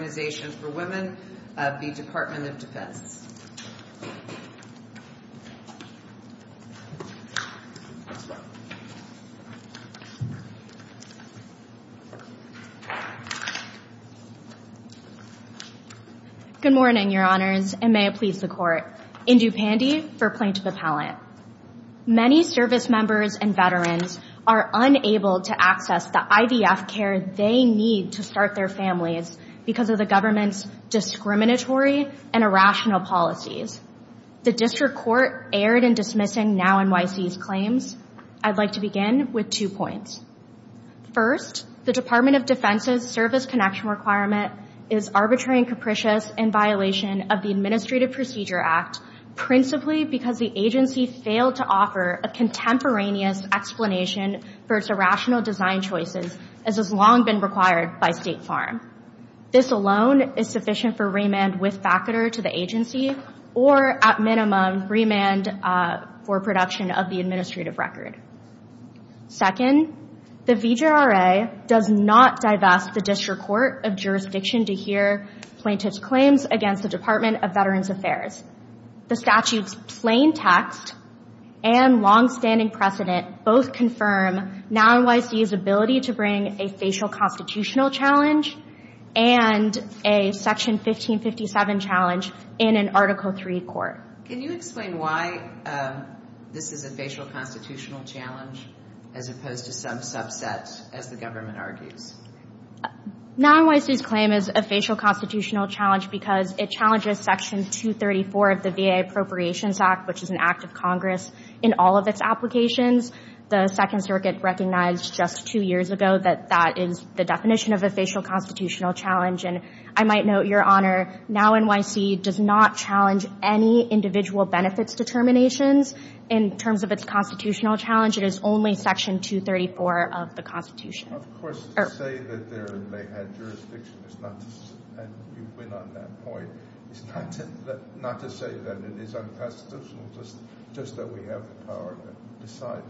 Good morning, Your Honors, and may it please the Court. Indu Pandey for Plaintiff Appellant. Many service members and veterans are unable to access the IVF care they need to start their families because of the government's discriminatory and irrational policies. The District Court erred in dismissing NowNYC's claims. I'd like to begin with two points. First, the Department of Defense's service connection requirement is arbitrary and capricious in violation of the Administrative Procedure Act, principally because the agency failed to offer a contemporaneous explanation for its irrational design choices, as has long been required by State Farm. This alone is sufficient for remand with factor to the agency or, at minimum, remand for production of the administrative record. Second, the VJRA does not divest the District Court of Jurisdiction to hear plaintiff's claims against the Department of Veterans Affairs. The statute's plain text and longstanding precedent both confirm NowNYC's ability to bring a facial constitutional challenge and a Section 1557 challenge in an Article III court. Can you explain why this is a facial constitutional challenge, as opposed to some subset, as the government argues? NowNYC's claim is a facial constitutional challenge because it challenges Section 234 of the VA Appropriations Act, which is an act of Congress, in all of its applications. The Second Circuit recognized just two years ago that that is the definition of a facial constitutional challenge. And I might note, Your Honor, NowNYC does not challenge any individual benefits determinations in terms of its constitutional challenge. It is only Section 234 of the Constitution. Of course, to say that they had jurisdiction is not to say that it is unconstitutional, just that we have the power to decide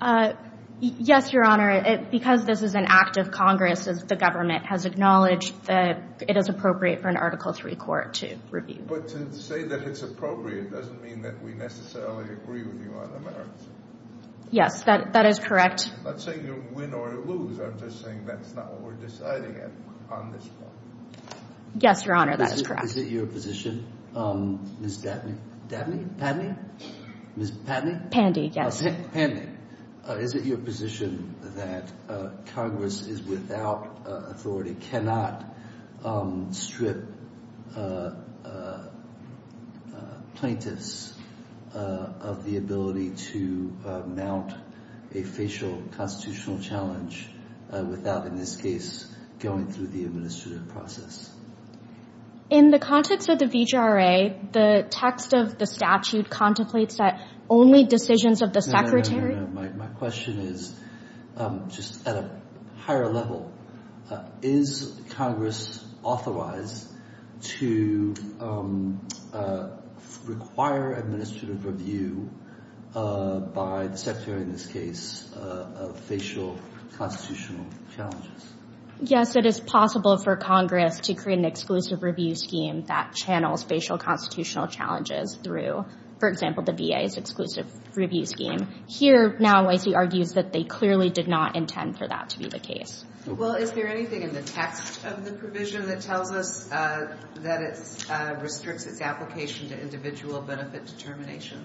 that, right? Yes, Your Honor, because this is an act of Congress, the government has acknowledged that it is appropriate for an Article III court to review. But to say that it's appropriate doesn't mean that we necessarily agree with you on the merits. Yes, that is correct. I'm not saying you win or lose. I'm just saying that's not what we're deciding on this point. Yes, Your Honor, that is correct. Is it your position? Ms. Dabney? Dabney? Ms. Patney? Pandey, yes. Oh, Pandey. Is it your position that Congress is without authority, cannot strip plaintiffs of the ability to mount a facial constitutional challenge without, in this case, going through the administrative process? In the context of the VHRA, the text of the statute contemplates that only decisions of the Secretary... No, no, no, no, no. My question is just at a higher level. Is Congress authorized to require administrative review by the Secretary in this case of facial constitutional challenges? Yes, it is possible for Congress to create an exclusive review scheme that channels facial constitutional challenges through, for example, the VA's exclusive review scheme. Here, now, OIC argues that they clearly did not intend for that to be the case. Well, is there anything in the text of the provision that tells us that it restricts its application to individual benefit determination?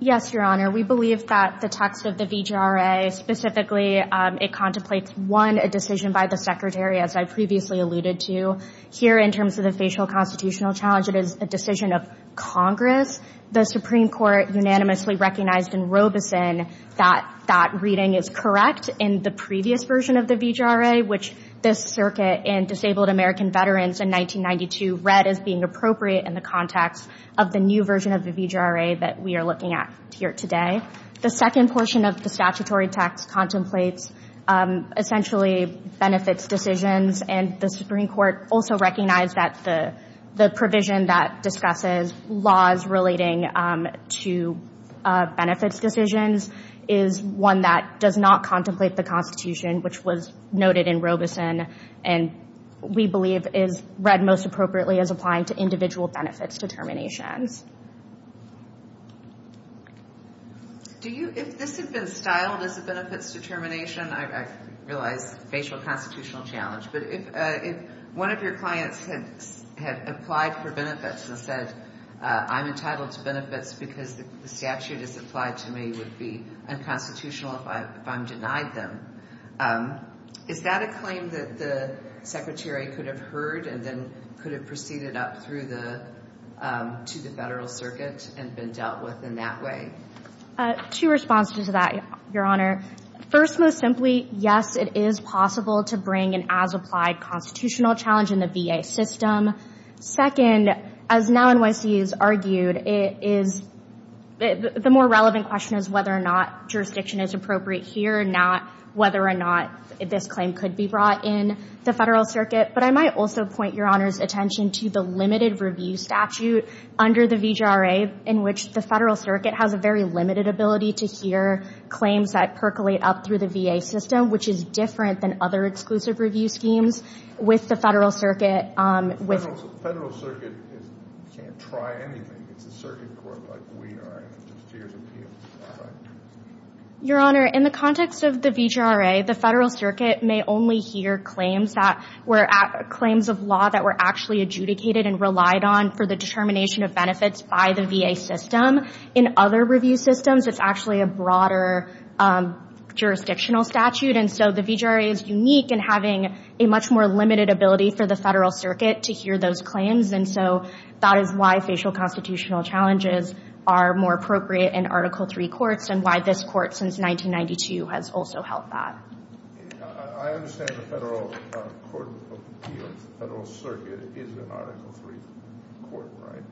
Yes, Your Honor, we believe that the text of the VHRA specifically, it contemplates one, a decision by the Secretary, as I previously alluded to. Here, in terms of the facial constitutional challenge, it is a decision of Congress. The Supreme Court unanimously recognized in Robeson that that reading is correct in the previous version of the VHRA, which this circuit and Disabled American Veterans in 1992 read as being appropriate in the context of the new version of the VHRA that we are looking at here today. The second portion of the statutory text contemplates, essentially, benefits decisions. And the Supreme Court also recognized that the provision that discusses laws relating to benefits decisions is one that does not contemplate the Constitution, which was noted in Robeson and we believe is read most appropriately as applying to individual benefits determinations. Do you, if this had been styled as a benefits determination, I realize facial constitutional challenge, but if one of your clients had applied for benefits and said, I'm entitled to benefits because the statute is applied to me would be unconstitutional if I'm denied them, is that a claim that the Secretary could have heard and then could have proceeded up through the, to the Federal Circuit and been dealt with in that way? Two responses to that, Your Honor. First, most simply, yes, it is possible to bring an as-applied constitutional challenge in the VA system. Second, as now NYC has argued, it is, the more relevant question is whether or not jurisdiction is appropriate here and not whether or not this claim could be brought in the Federal Circuit. But I might also point Your Honor's attention to the limited review statute under the VHRA in which the Federal Circuit has a very limited ability to hear claims that percolate up through the VA system, which is different than other exclusive review schemes with the Federal Circuit. The Federal Circuit can't try anything. It's a circuit court like we are in. It just hears appeals. Your Honor, in the context of the VHRA, the Federal Circuit may only hear claims that were, claims of law that were actually adjudicated and relied on for the determination of benefits by the VA system. In other review systems, it's actually a broader jurisdictional statute. And so, the VHRA is unique in having a much more limited ability for the Federal Circuit to hear those claims. And so, that is why facial constitutional challenges are more appropriate in Article III courts and why this court, since 1992, has also held that. I understand the Federal Court of Appeals, the Federal Circuit, is an Article III court, right?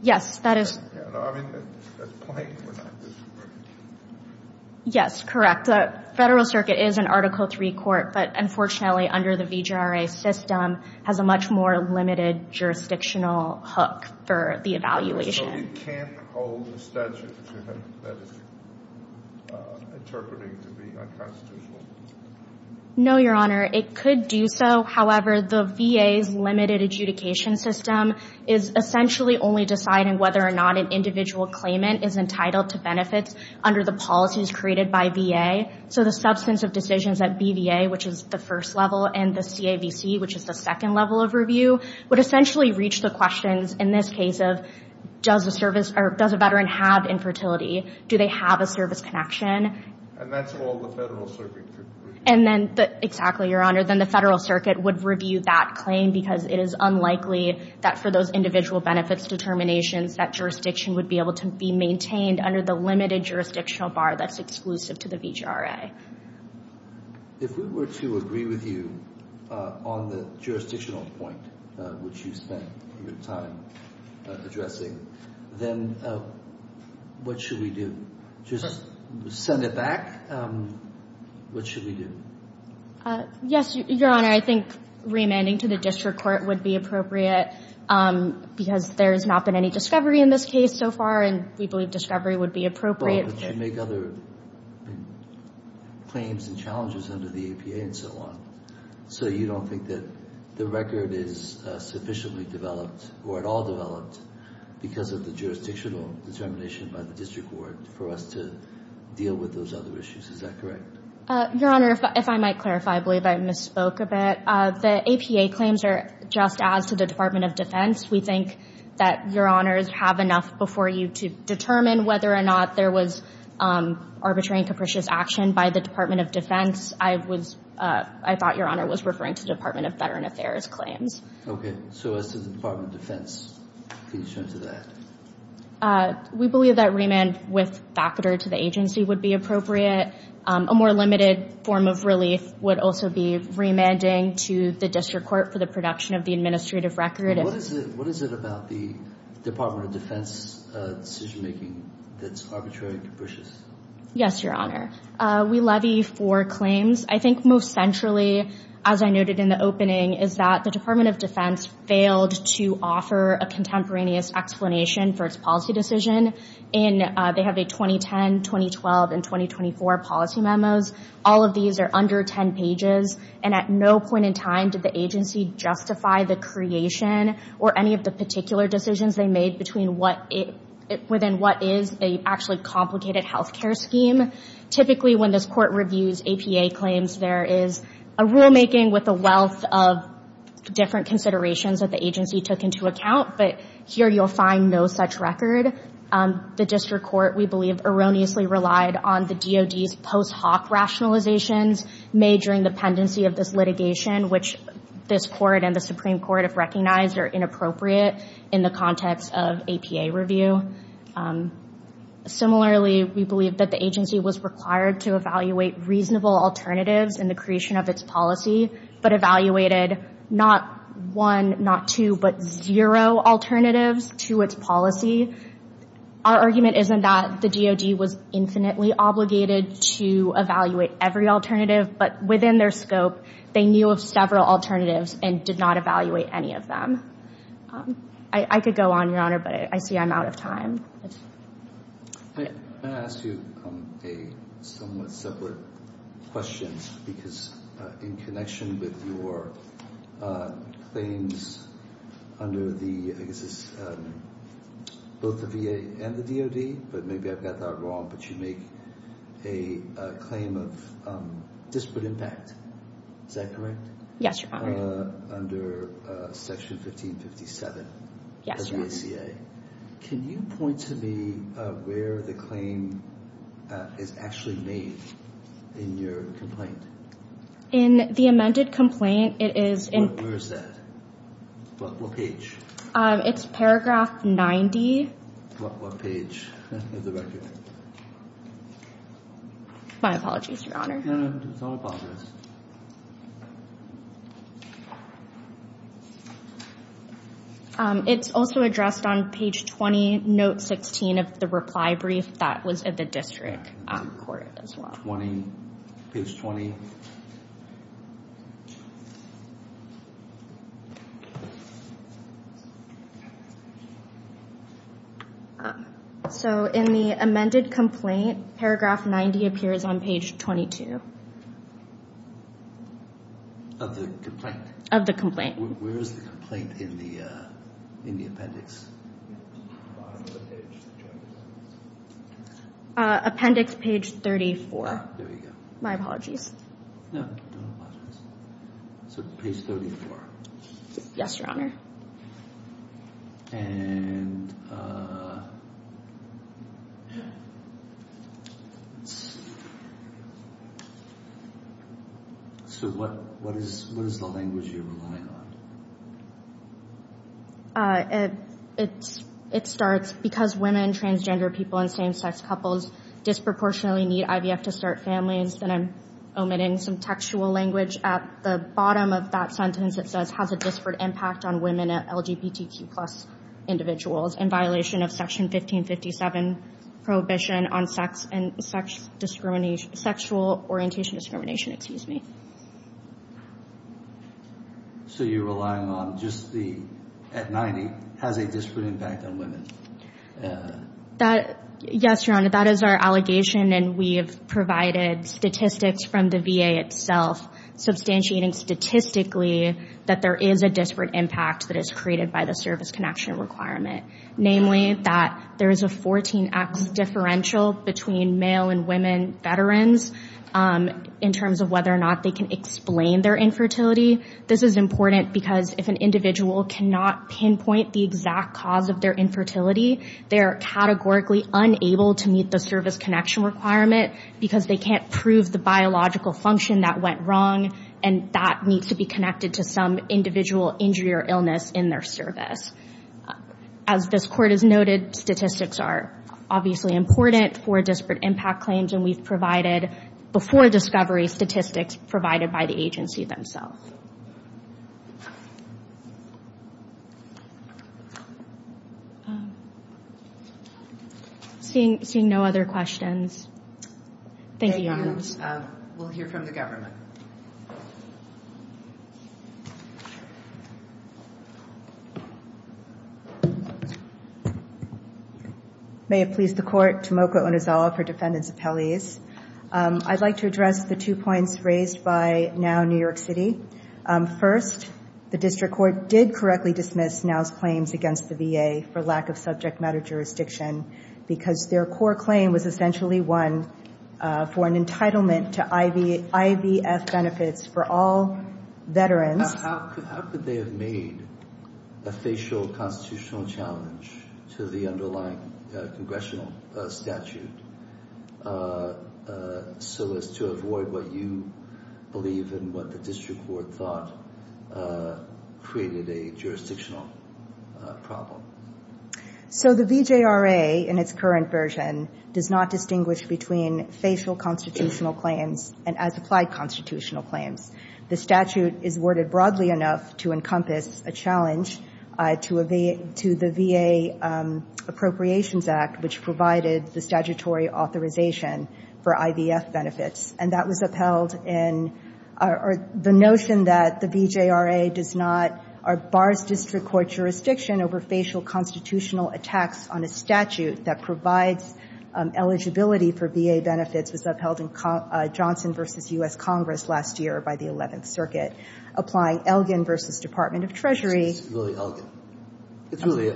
Yes, that is... Yeah, no, I mean, at this point, we're not just... Yes, correct. The Federal Circuit is an Article III court, but unfortunately, under the VHRA system, has a much more limited jurisdictional hook for the evaluation. So, it can't hold a statute that is interpreted to be unconstitutional? No, Your Honor. It could do so. However, the VA's limited adjudication system is essentially only deciding whether or not an individual claimant is entitled to benefits under the policies created by VA. So, the substance of decisions at BVA, which is the first level, and the CAVC, which is the second level of review, would essentially reach the questions, in this case of, does a service or does a veteran have infertility? Do they have a service connection? And that's all the Federal Circuit could... And then... Exactly, Your Honor. Then the Federal Circuit would review that claim because it is unlikely that for those individual benefits determinations, that jurisdiction would be able to be maintained under the limited jurisdictional bar that's exclusive to the VHRA. If we were to agree with you on the jurisdictional point, which you spent your time addressing, then what should we do? Just send it back? What should we do? Yes, Your Honor. I think remanding to the district court would be appropriate because there has not been any discovery in this case so far, and we believe discovery would be appropriate. Well, but you make other claims and challenges under the EPA and so on. So, you don't think that the record is sufficiently developed or at all developed because of the jurisdictional determination by the district court for us to deal with those other issues. Is that correct? Your Honor, if I might clarify, I believe I misspoke a bit. The EPA claims are just as to the Department of Defense. We think that Your Honors have enough before you to determine whether or not there was arbitrary and capricious action by the Department of Defense. I thought Your Honor was referring to Department of Veteran Affairs claims. Okay. So, as to the Department of Defense, please turn to that. We believe that remand with factor to the agency would be appropriate. A more limited form of relief would also be remanding to the district court for the production of the administrative record. What is it about the Department of Defense decision-making that's arbitrary and capricious? Yes, Your Honor. We levy four claims. I think most centrally, as I noted in the opening, is that the Department of Defense failed to offer a contemporaneous explanation for its policy decision. They have a 2010, 2012, and 2024 policy memos. All of these are under 10 pages. And at no point in time did the agency justify the creation or any of the particular decisions they made within what is a actually complicated healthcare scheme. Typically, when this court reviews APA claims, there is a rulemaking with a wealth of different considerations that the agency took into account. But here, you'll find no such record. The district court, we believe, erroneously relied on the DOD's post hoc rationalizations made during the pendency of this litigation, which this court and the Supreme Court have recognized are inappropriate in the context of APA review. Similarly, we believe that the agency was required to evaluate reasonable alternatives in the creation of its policy, but evaluated not one, not two, but zero alternatives to its policy. Our argument isn't that the DOD was infinitely obligated to evaluate every alternative, but within their scope, they knew of several alternatives and did not evaluate any of them. I could go on, Your Honor, but I see I'm out of time. Can I ask you a somewhat separate question? Because in connection with your claims under the, I guess it's both the VA and the DOD, but maybe I've got that wrong, but you make a claim of disparate impact. Is that correct? Yes, Your Honor. Under Section 1557 of the ACA, can you point to me where the claim is actually made in your complaint? In the amended complaint, it is in... Where is that? What page? It's paragraph 90. What page of the record? My apologies, Your Honor. No, no, it's all about this. It's also addressed on page 20, note 16 of the reply brief that was at the district court as well. 20, page 20. So in the amended complaint, paragraph 90 appears on page 22. Of the complaint? Of the complaint. Where is the complaint in the appendix? Appendix page 34. There you go. My apologies. No, no apologies. So page 34. Yes, Your Honor. And... So what is the language you're relying on? It starts, because women, transgender people, and same-sex couples disproportionately need IVF to start families, then I'm omitting some textual language. At the bottom of that sentence, it says, has a disparate impact on women and LGBTQ plus individuals in violation of section 1557 prohibition on sexual orientation discrimination. Excuse me. So you're relying on just the, at 90, has a disparate impact on women. Yes, Your Honor. That is our allegation, and we have provided statistics from the VA itself, substantiating statistically that there is a disparate impact that is created by the service connection requirement. Namely, that there is a 14X differential between male and women veterans, in terms of whether or not they can explain their infertility. This is important because if an individual cannot pinpoint the exact cause of their infertility, they are categorically unable to meet the service connection requirement because they can't prove the biological function that went wrong, and that needs to be connected to some individual injury or illness in their service. As this Court has noted, statistics are obviously important for disparate impact claims, and we've provided, before discovery, statistics provided by the agency themselves. Seeing no other questions. Thank you, Your Honor. Thank you, Your Honor. We'll hear from the government. May it please the Court. Tomoko Onizawa for Defendant's Appellees. I'd like to address the two points raised by NOW New York City. First, the District Court did correctly dismiss NOW's claims against the VA for lack of subject matter jurisdiction because their core claim was essentially one for an entitlement to IVF benefits for all veterans. How could they have made a facial constitutional challenge to the underlying congressional statute so as to avoid what you believe and what the District Court thought created a jurisdictional problem? So the VJRA, in its current version, does not distinguish between facial constitutional claims and as-applied constitutional claims. The statute is worded broadly enough to encompass a challenge to the VA Appropriations Act, which provided the statutory authorization for IVF benefits. And that was upheld in the notion that the VJRA does not bar District Court jurisdiction over facial constitutional attacks on a statute that provides eligibility for VA benefits was upheld in Johnson v. U.S. Congress last year by the Eleventh Circuit, applying Elgin v. Department of Treasury. It's really Elgin. It really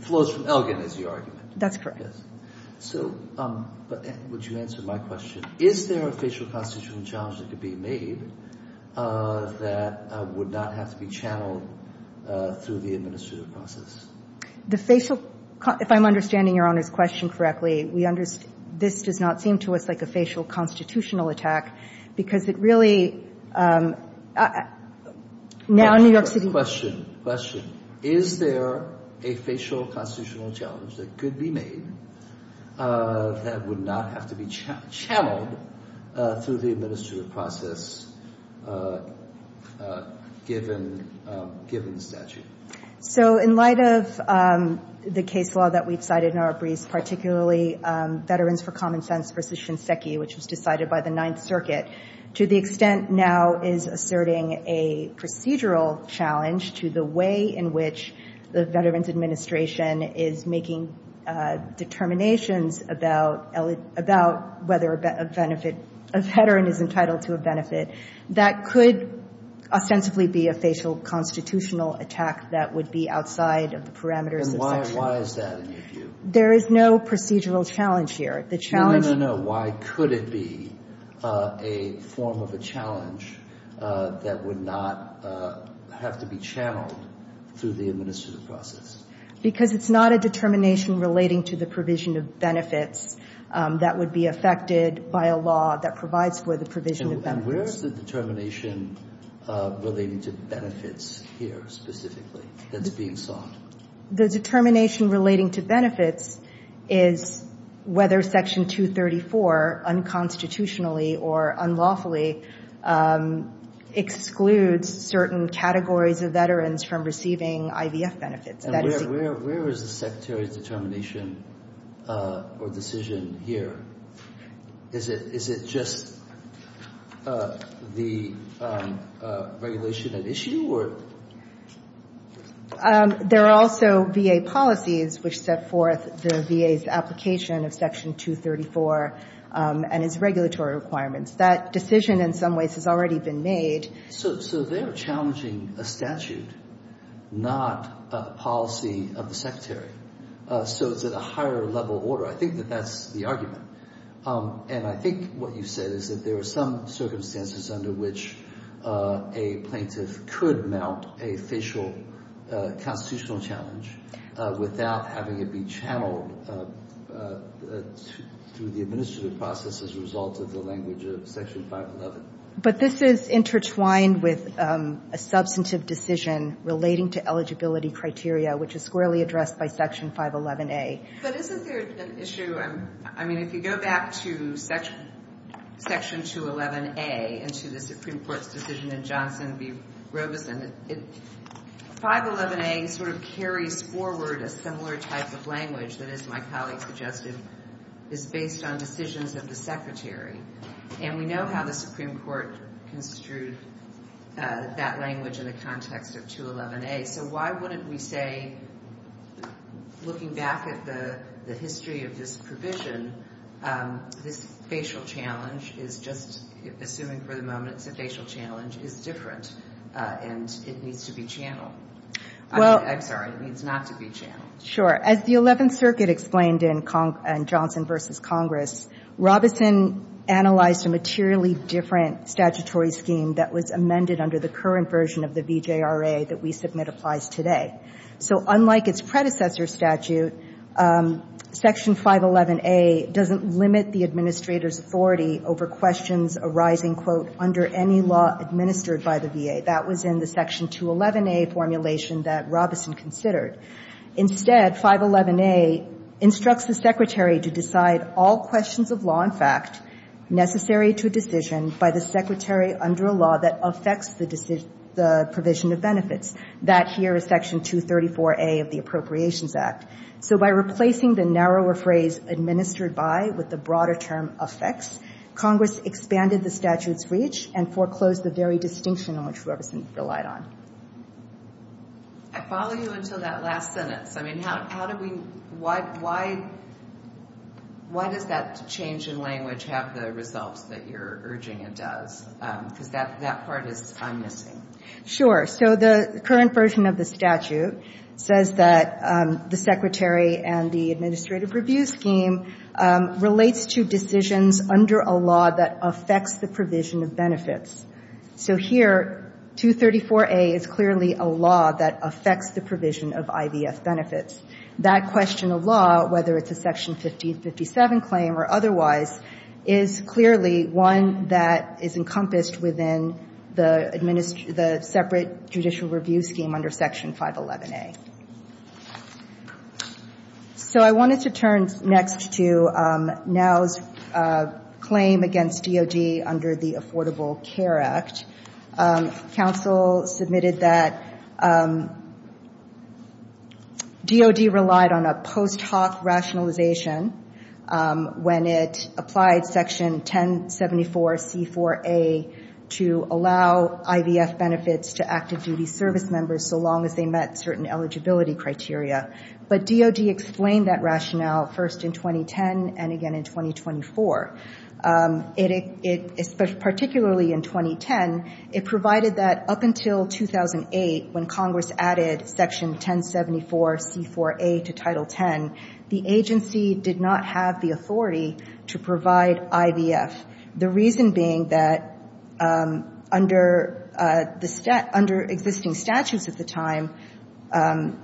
flows from Elgin, is your argument. That's correct. Yes. So would you answer my question? Is there a facial constitutional challenge that could be made that would not have to be channeled through the administrative process? The facial – if I'm understanding Your Honor's question correctly, we – this does not seem to us like a facial constitutional attack because it really – now New York City Question. Question. Is there a facial constitutional challenge that could be made that would not have to be channeled through the administrative process given the statute? So in light of the case law that we've cited in our briefs, particularly Veterans for Common Sense v. Shinseki, which was decided by the Ninth Circuit, to the extent now is asserting a procedural challenge to the way in which the Veterans Administration is making determinations about whether a veteran is entitled to a benefit, that could ostensibly be a facial constitutional attack that would be outside of the parameters of section. And why is that in your view? There is no procedural challenge here. The challenge – No, no, no. Why could it be a form of a challenge that would not have to be channeled through the administrative process? Because it's not a determination relating to the provision of benefits that would be affected by a law that provides for the provision of benefits. And where is the determination relating to benefits here specifically that's being sought? The determination relating to benefits is whether section 234 unconstitutionally or unlawfully excludes certain categories of veterans from receiving IVF benefits. And where is the Secretary's determination or decision here? Is it just the regulation at issue? There are also VA policies which set forth the VA's application of section 234 and its regulatory requirements. That decision in some ways has already been made. So they're challenging a statute, not a policy of the Secretary. So it's at a higher level order. I think that that's the argument. And I think what you said is that there are some circumstances under which a plaintiff could mount a facial constitutional challenge without having it be channeled through the administrative process as a result of the language of section 511. But this is intertwined with a substantive decision relating to eligibility criteria, which is squarely addressed by section 511A. But isn't there an issue? I mean, if you go back to section 211A and to the Supreme Court's decision in Johnson v. Robeson, 511A sort of carries forward a similar type of language that, as my colleague suggested, is based on decisions of the Secretary. And we know how the Supreme Court construed that language in the context of 211A. So why wouldn't we say, looking back at the history of this provision, this facial challenge is just assuming for the moment it's a facial challenge, is different, and it needs to be channeled. I'm sorry, it needs not to be channeled. Sure. As the Eleventh Circuit explained in Johnson v. Congress, Robeson analyzed a materially different statutory scheme that was amended under the current version of the VJRA that we submit applies today. So unlike its predecessor statute, section 511A doesn't limit the administrator's authority over questions arising, quote, under any law administered by the VA. That was in the section 211A formulation that Robeson considered. Instead, 511A instructs the Secretary to decide all questions of law in fact necessary to a decision by the Secretary under a law that affects the provision of benefits. That here is section 234A of the Appropriations Act. So by replacing the narrower phrase, administered by, with the broader term, affects, Congress expanded the statute's reach and foreclosed the very distinction on which Robeson relied on. I follow you until that last sentence. I mean, how do we, why does that change in language have the results that you're urging it does? Because that part is, I'm missing. Sure. So the current version of the statute says that the Secretary and the administrative review scheme relates to decisions under a law that affects the provision of benefits. So here, 234A is clearly a law that affects the provision of IVF benefits. That question of law, whether it's a section 1557 claim or otherwise, is clearly one that is encompassed within the separate judicial review scheme under section 511A. So I wanted to turn next to NOW's claim against DOD under the Affordable Care Act. Council submitted that DOD relied on a post hoc rationalization when it applied section 1074C4A to allow IVF benefits to active duty service members so long as they met certain eligibility criteria. But DOD explained that rationale first in 2010 and again in 2024. Particularly in 2010, it provided that up until 2008 when Congress added section 1074C4A to Title X, the agency did not have the authority to provide IVF. The reason being that under existing statutes at the time,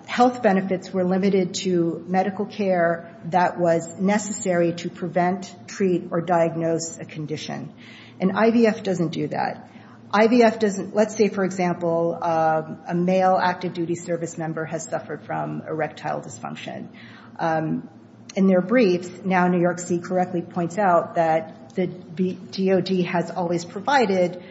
health benefits were limited to medical care that was necessary to prevent, treat, or diagnose a condition. And IVF doesn't do that. Let's say, for example, a male active duty service member has suffered from erectile dysfunction. In their briefs, NOW New York City correctly points out that the DOD has always provided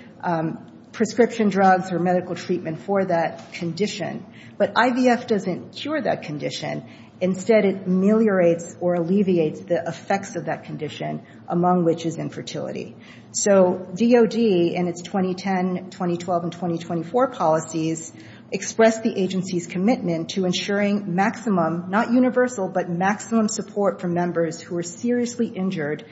prescription drugs or medical treatment for that condition. But IVF doesn't cure that condition. Instead, it ameliorates or alleviates the effects of that condition, among which is infertility. So DOD, in its 2010, 2012, and 2024 policies, expressed the agency's commitment to ensuring maximum, not universal, but maximum support for members who are seriously injured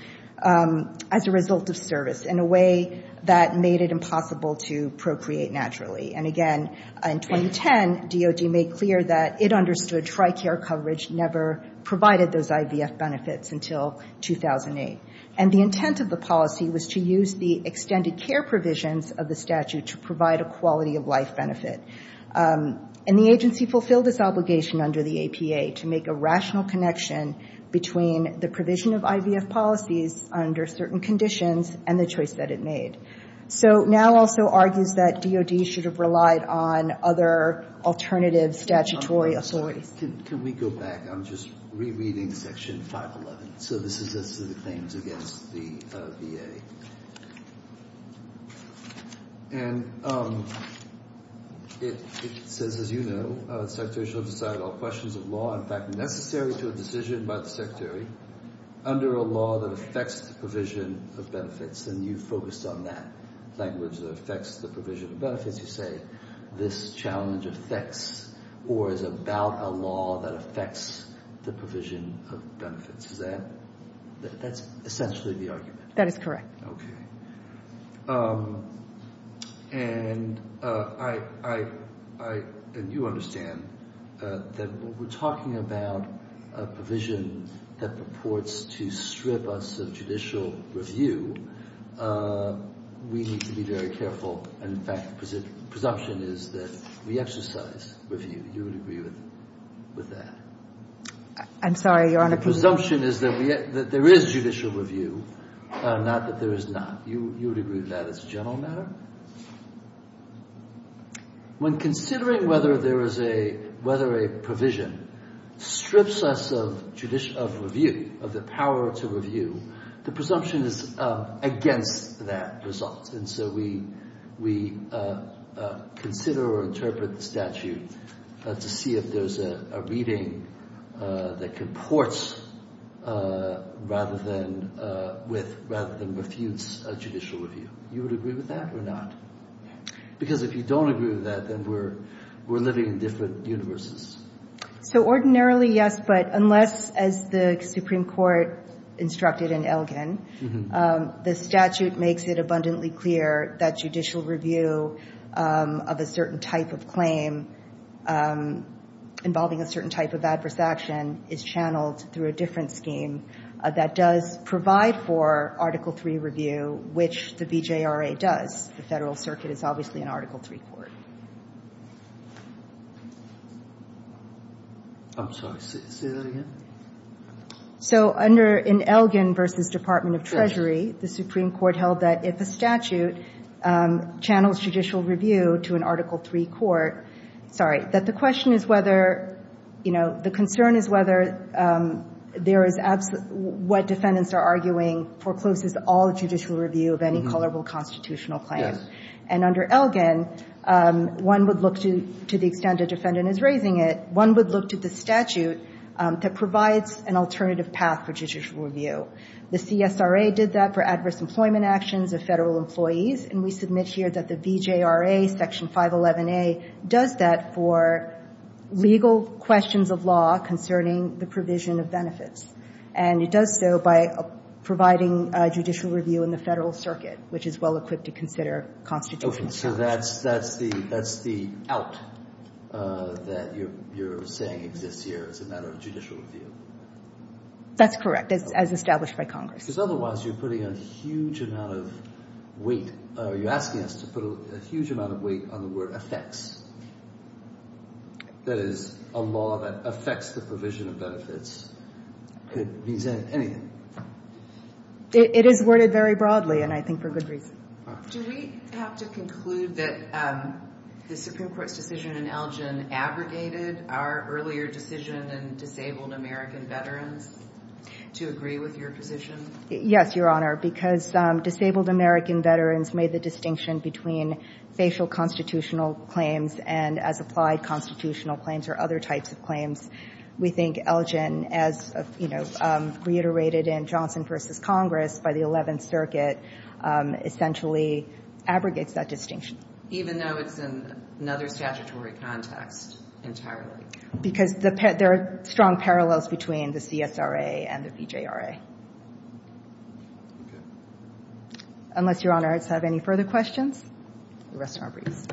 as a result of service in a way that made it impossible to procreate naturally. And again, in 2010, DOD made clear that it understood TRICARE coverage never provided those IVF benefits until 2008. And the intent of the policy was to use the extended care provisions of the statute to provide a quality-of-life benefit. And the agency fulfilled its obligation under the APA to make a rational connection between the provision of IVF policies under certain conditions and the choice that it made. So NOW also argues that DOD should have relied on other alternative statutory authorities. Can we go back? I'm just rereading Section 511. So this is as to the claims against the VA. And it says, as you know, the secretary shall decide on questions of law, in fact necessary to a decision by the secretary, under a law that affects the provision of benefits. And you focused on that language, that affects the provision of benefits. As you say, this challenge affects or is about a law that affects the provision of benefits. Is that – that's essentially the argument? That is correct. Okay. And I – and you understand that when we're talking about a provision that purports to strip us of judicial review, we need to be very careful. And, in fact, the presumption is that we exercise review. You would agree with that? I'm sorry, Your Honor. The presumption is that there is judicial review, not that there is not. You would agree with that as a general matter? When considering whether there is a – whether a provision strips us of review, of the power to review, the presumption is against that result. And so we consider or interpret the statute to see if there's a reading that purports rather than with – rather than refutes a judicial review. You would agree with that or not? Because if you don't agree with that, then we're living in different universes. So ordinarily, yes, but unless, as the Supreme Court instructed in Elgin, the statute makes it abundantly clear that judicial review of a certain type of claim involving a certain type of adverse action is channeled through a different scheme that does provide for Article III review, which the BJRA does. The Federal Circuit is obviously an Article III court. I'm sorry. Say that again. So under – in Elgin v. Department of Treasury, the Supreme Court held that if a statute channels judicial review to an Article III court – sorry – that the question is whether, you know, the concern is whether there is – what defendants are arguing forecloses all judicial review of any culpable constitutional claim. Yes. And under Elgin, one would look to – to the extent a defendant is raising it, one would look to the statute that provides an alternative path for judicial review. The CSRA did that for adverse employment actions of Federal employees, and we submit here that the BJRA Section 511A does that for legal questions of law concerning the provision of benefits. And it does so by providing judicial review in the Federal Circuit, which is well-equipped to consider constitutional challenges. Okay. So that's – that's the – that's the out that you're saying exists here as a matter of judicial review. That's correct, as established by Congress. Because otherwise you're putting a huge amount of weight – or you're asking us to put a huge amount of weight on the word That is, a law that affects the provision of benefits could mean anything. It is worded very broadly, and I think for good reason. Do we have to conclude that the Supreme Court's decision in Elgin aggregated our earlier decision in disabled American veterans to agree with your position? Yes, Your Honor, because disabled American veterans made the distinction between facial constitutional claims and, as applied, constitutional claims or other types of claims. We think Elgin, as, you know, reiterated in Johnson v. Congress by the Eleventh Circuit, essentially aggregates that distinction. Even though it's in another statutory context entirely? Because the – there are strong parallels between the CSRA and the BJRA. Okay. Unless Your Honors have any further questions, we rest our briefs.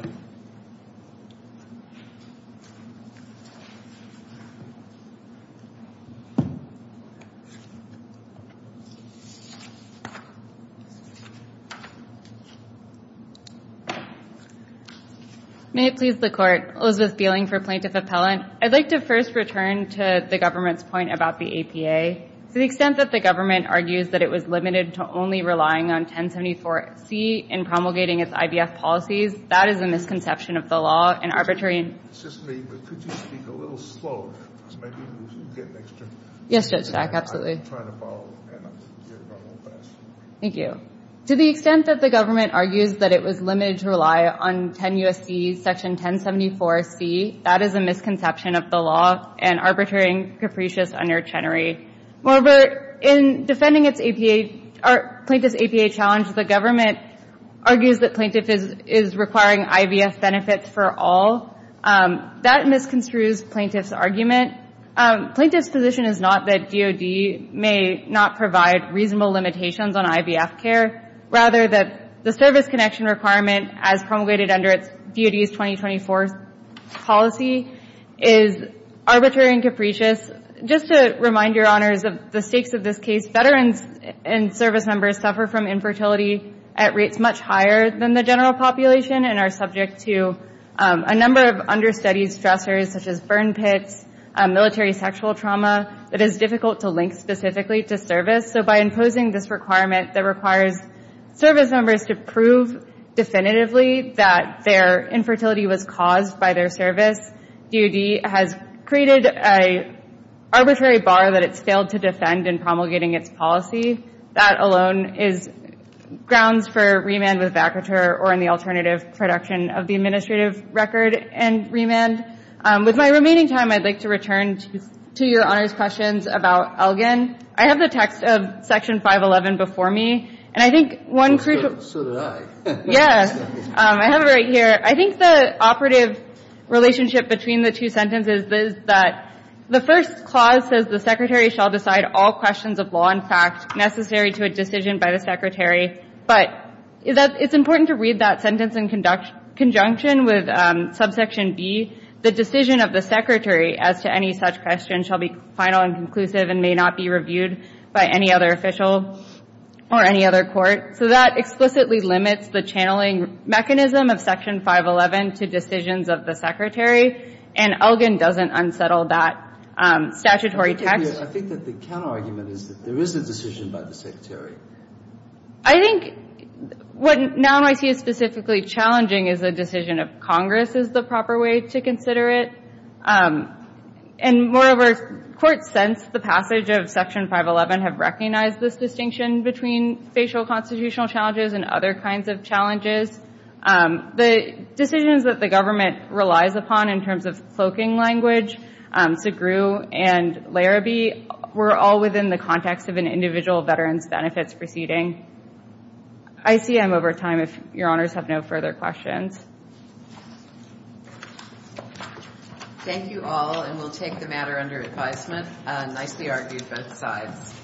May it please the Court. Elizabeth Bieling for Plaintiff Appellant. I'd like to first return to the government's point about the APA. To the extent that the government argues that it was limited to only relying on 1074C in promulgating its IVF policies, that is a misconception of the law and arbitrary – It's just me, but could you speak a little slower? Yes, Judge Stack, absolutely. I'm trying to follow. Thank you. To the extent that the government argues that it was limited to rely on 10 U.S.C. section 1074C, that is a misconception of the law and arbitrary and capricious under Chenery. Moreover, in defending its APA – plaintiff's APA challenge, the government argues that plaintiff is requiring IVF benefits for all. That misconstrues plaintiff's argument. Plaintiff's position is not that DOD may not provide reasonable limitations on IVF care, rather that the service connection requirement as promulgated under its DOD's 2024 policy is arbitrary and capricious. Just to remind your honors of the stakes of this case, veterans and service members suffer from infertility at rates much higher than the general population and are subject to a number of understudied stressors such as burn pits, military sexual trauma, that is difficult to link specifically to service. So by imposing this requirement that requires service members to prove definitively that their infertility was caused by their service, DOD has created an arbitrary bar that it's failed to defend in promulgating its policy. That alone is grounds for remand with vacatur or in the alternative production of the administrative record and remand. With my remaining time, I'd like to return to your honors questions about Elgin. I have the text of section 511 before me, and I think one – So did I. Yes. I have it right here. I think the operative relationship between the two sentences is that the first clause says, the secretary shall decide all questions of law and fact necessary to a decision by the secretary. But it's important to read that sentence in conjunction with subsection B, the decision of the secretary as to any such question shall be final and conclusive and may not be reviewed by any other official or any other court. So that explicitly limits the channeling mechanism of section 511 to decisions of the secretary, and Elgin doesn't unsettle that statutory text. I think that the counterargument is that there is a decision by the secretary. I think what now I see as specifically challenging is the decision of Congress is the proper way to consider it. And moreover, courts, since the passage of section 511, have recognized this distinction between facial constitutional challenges and other kinds of challenges. The decisions that the government relies upon in terms of cloaking language, Segru and Larrabee were all within the context of an individual veteran's benefits proceeding. I see I'm over time if your honors have no further questions. Thank you all, and we'll take the matter under advisement. Nicely argued, both sides.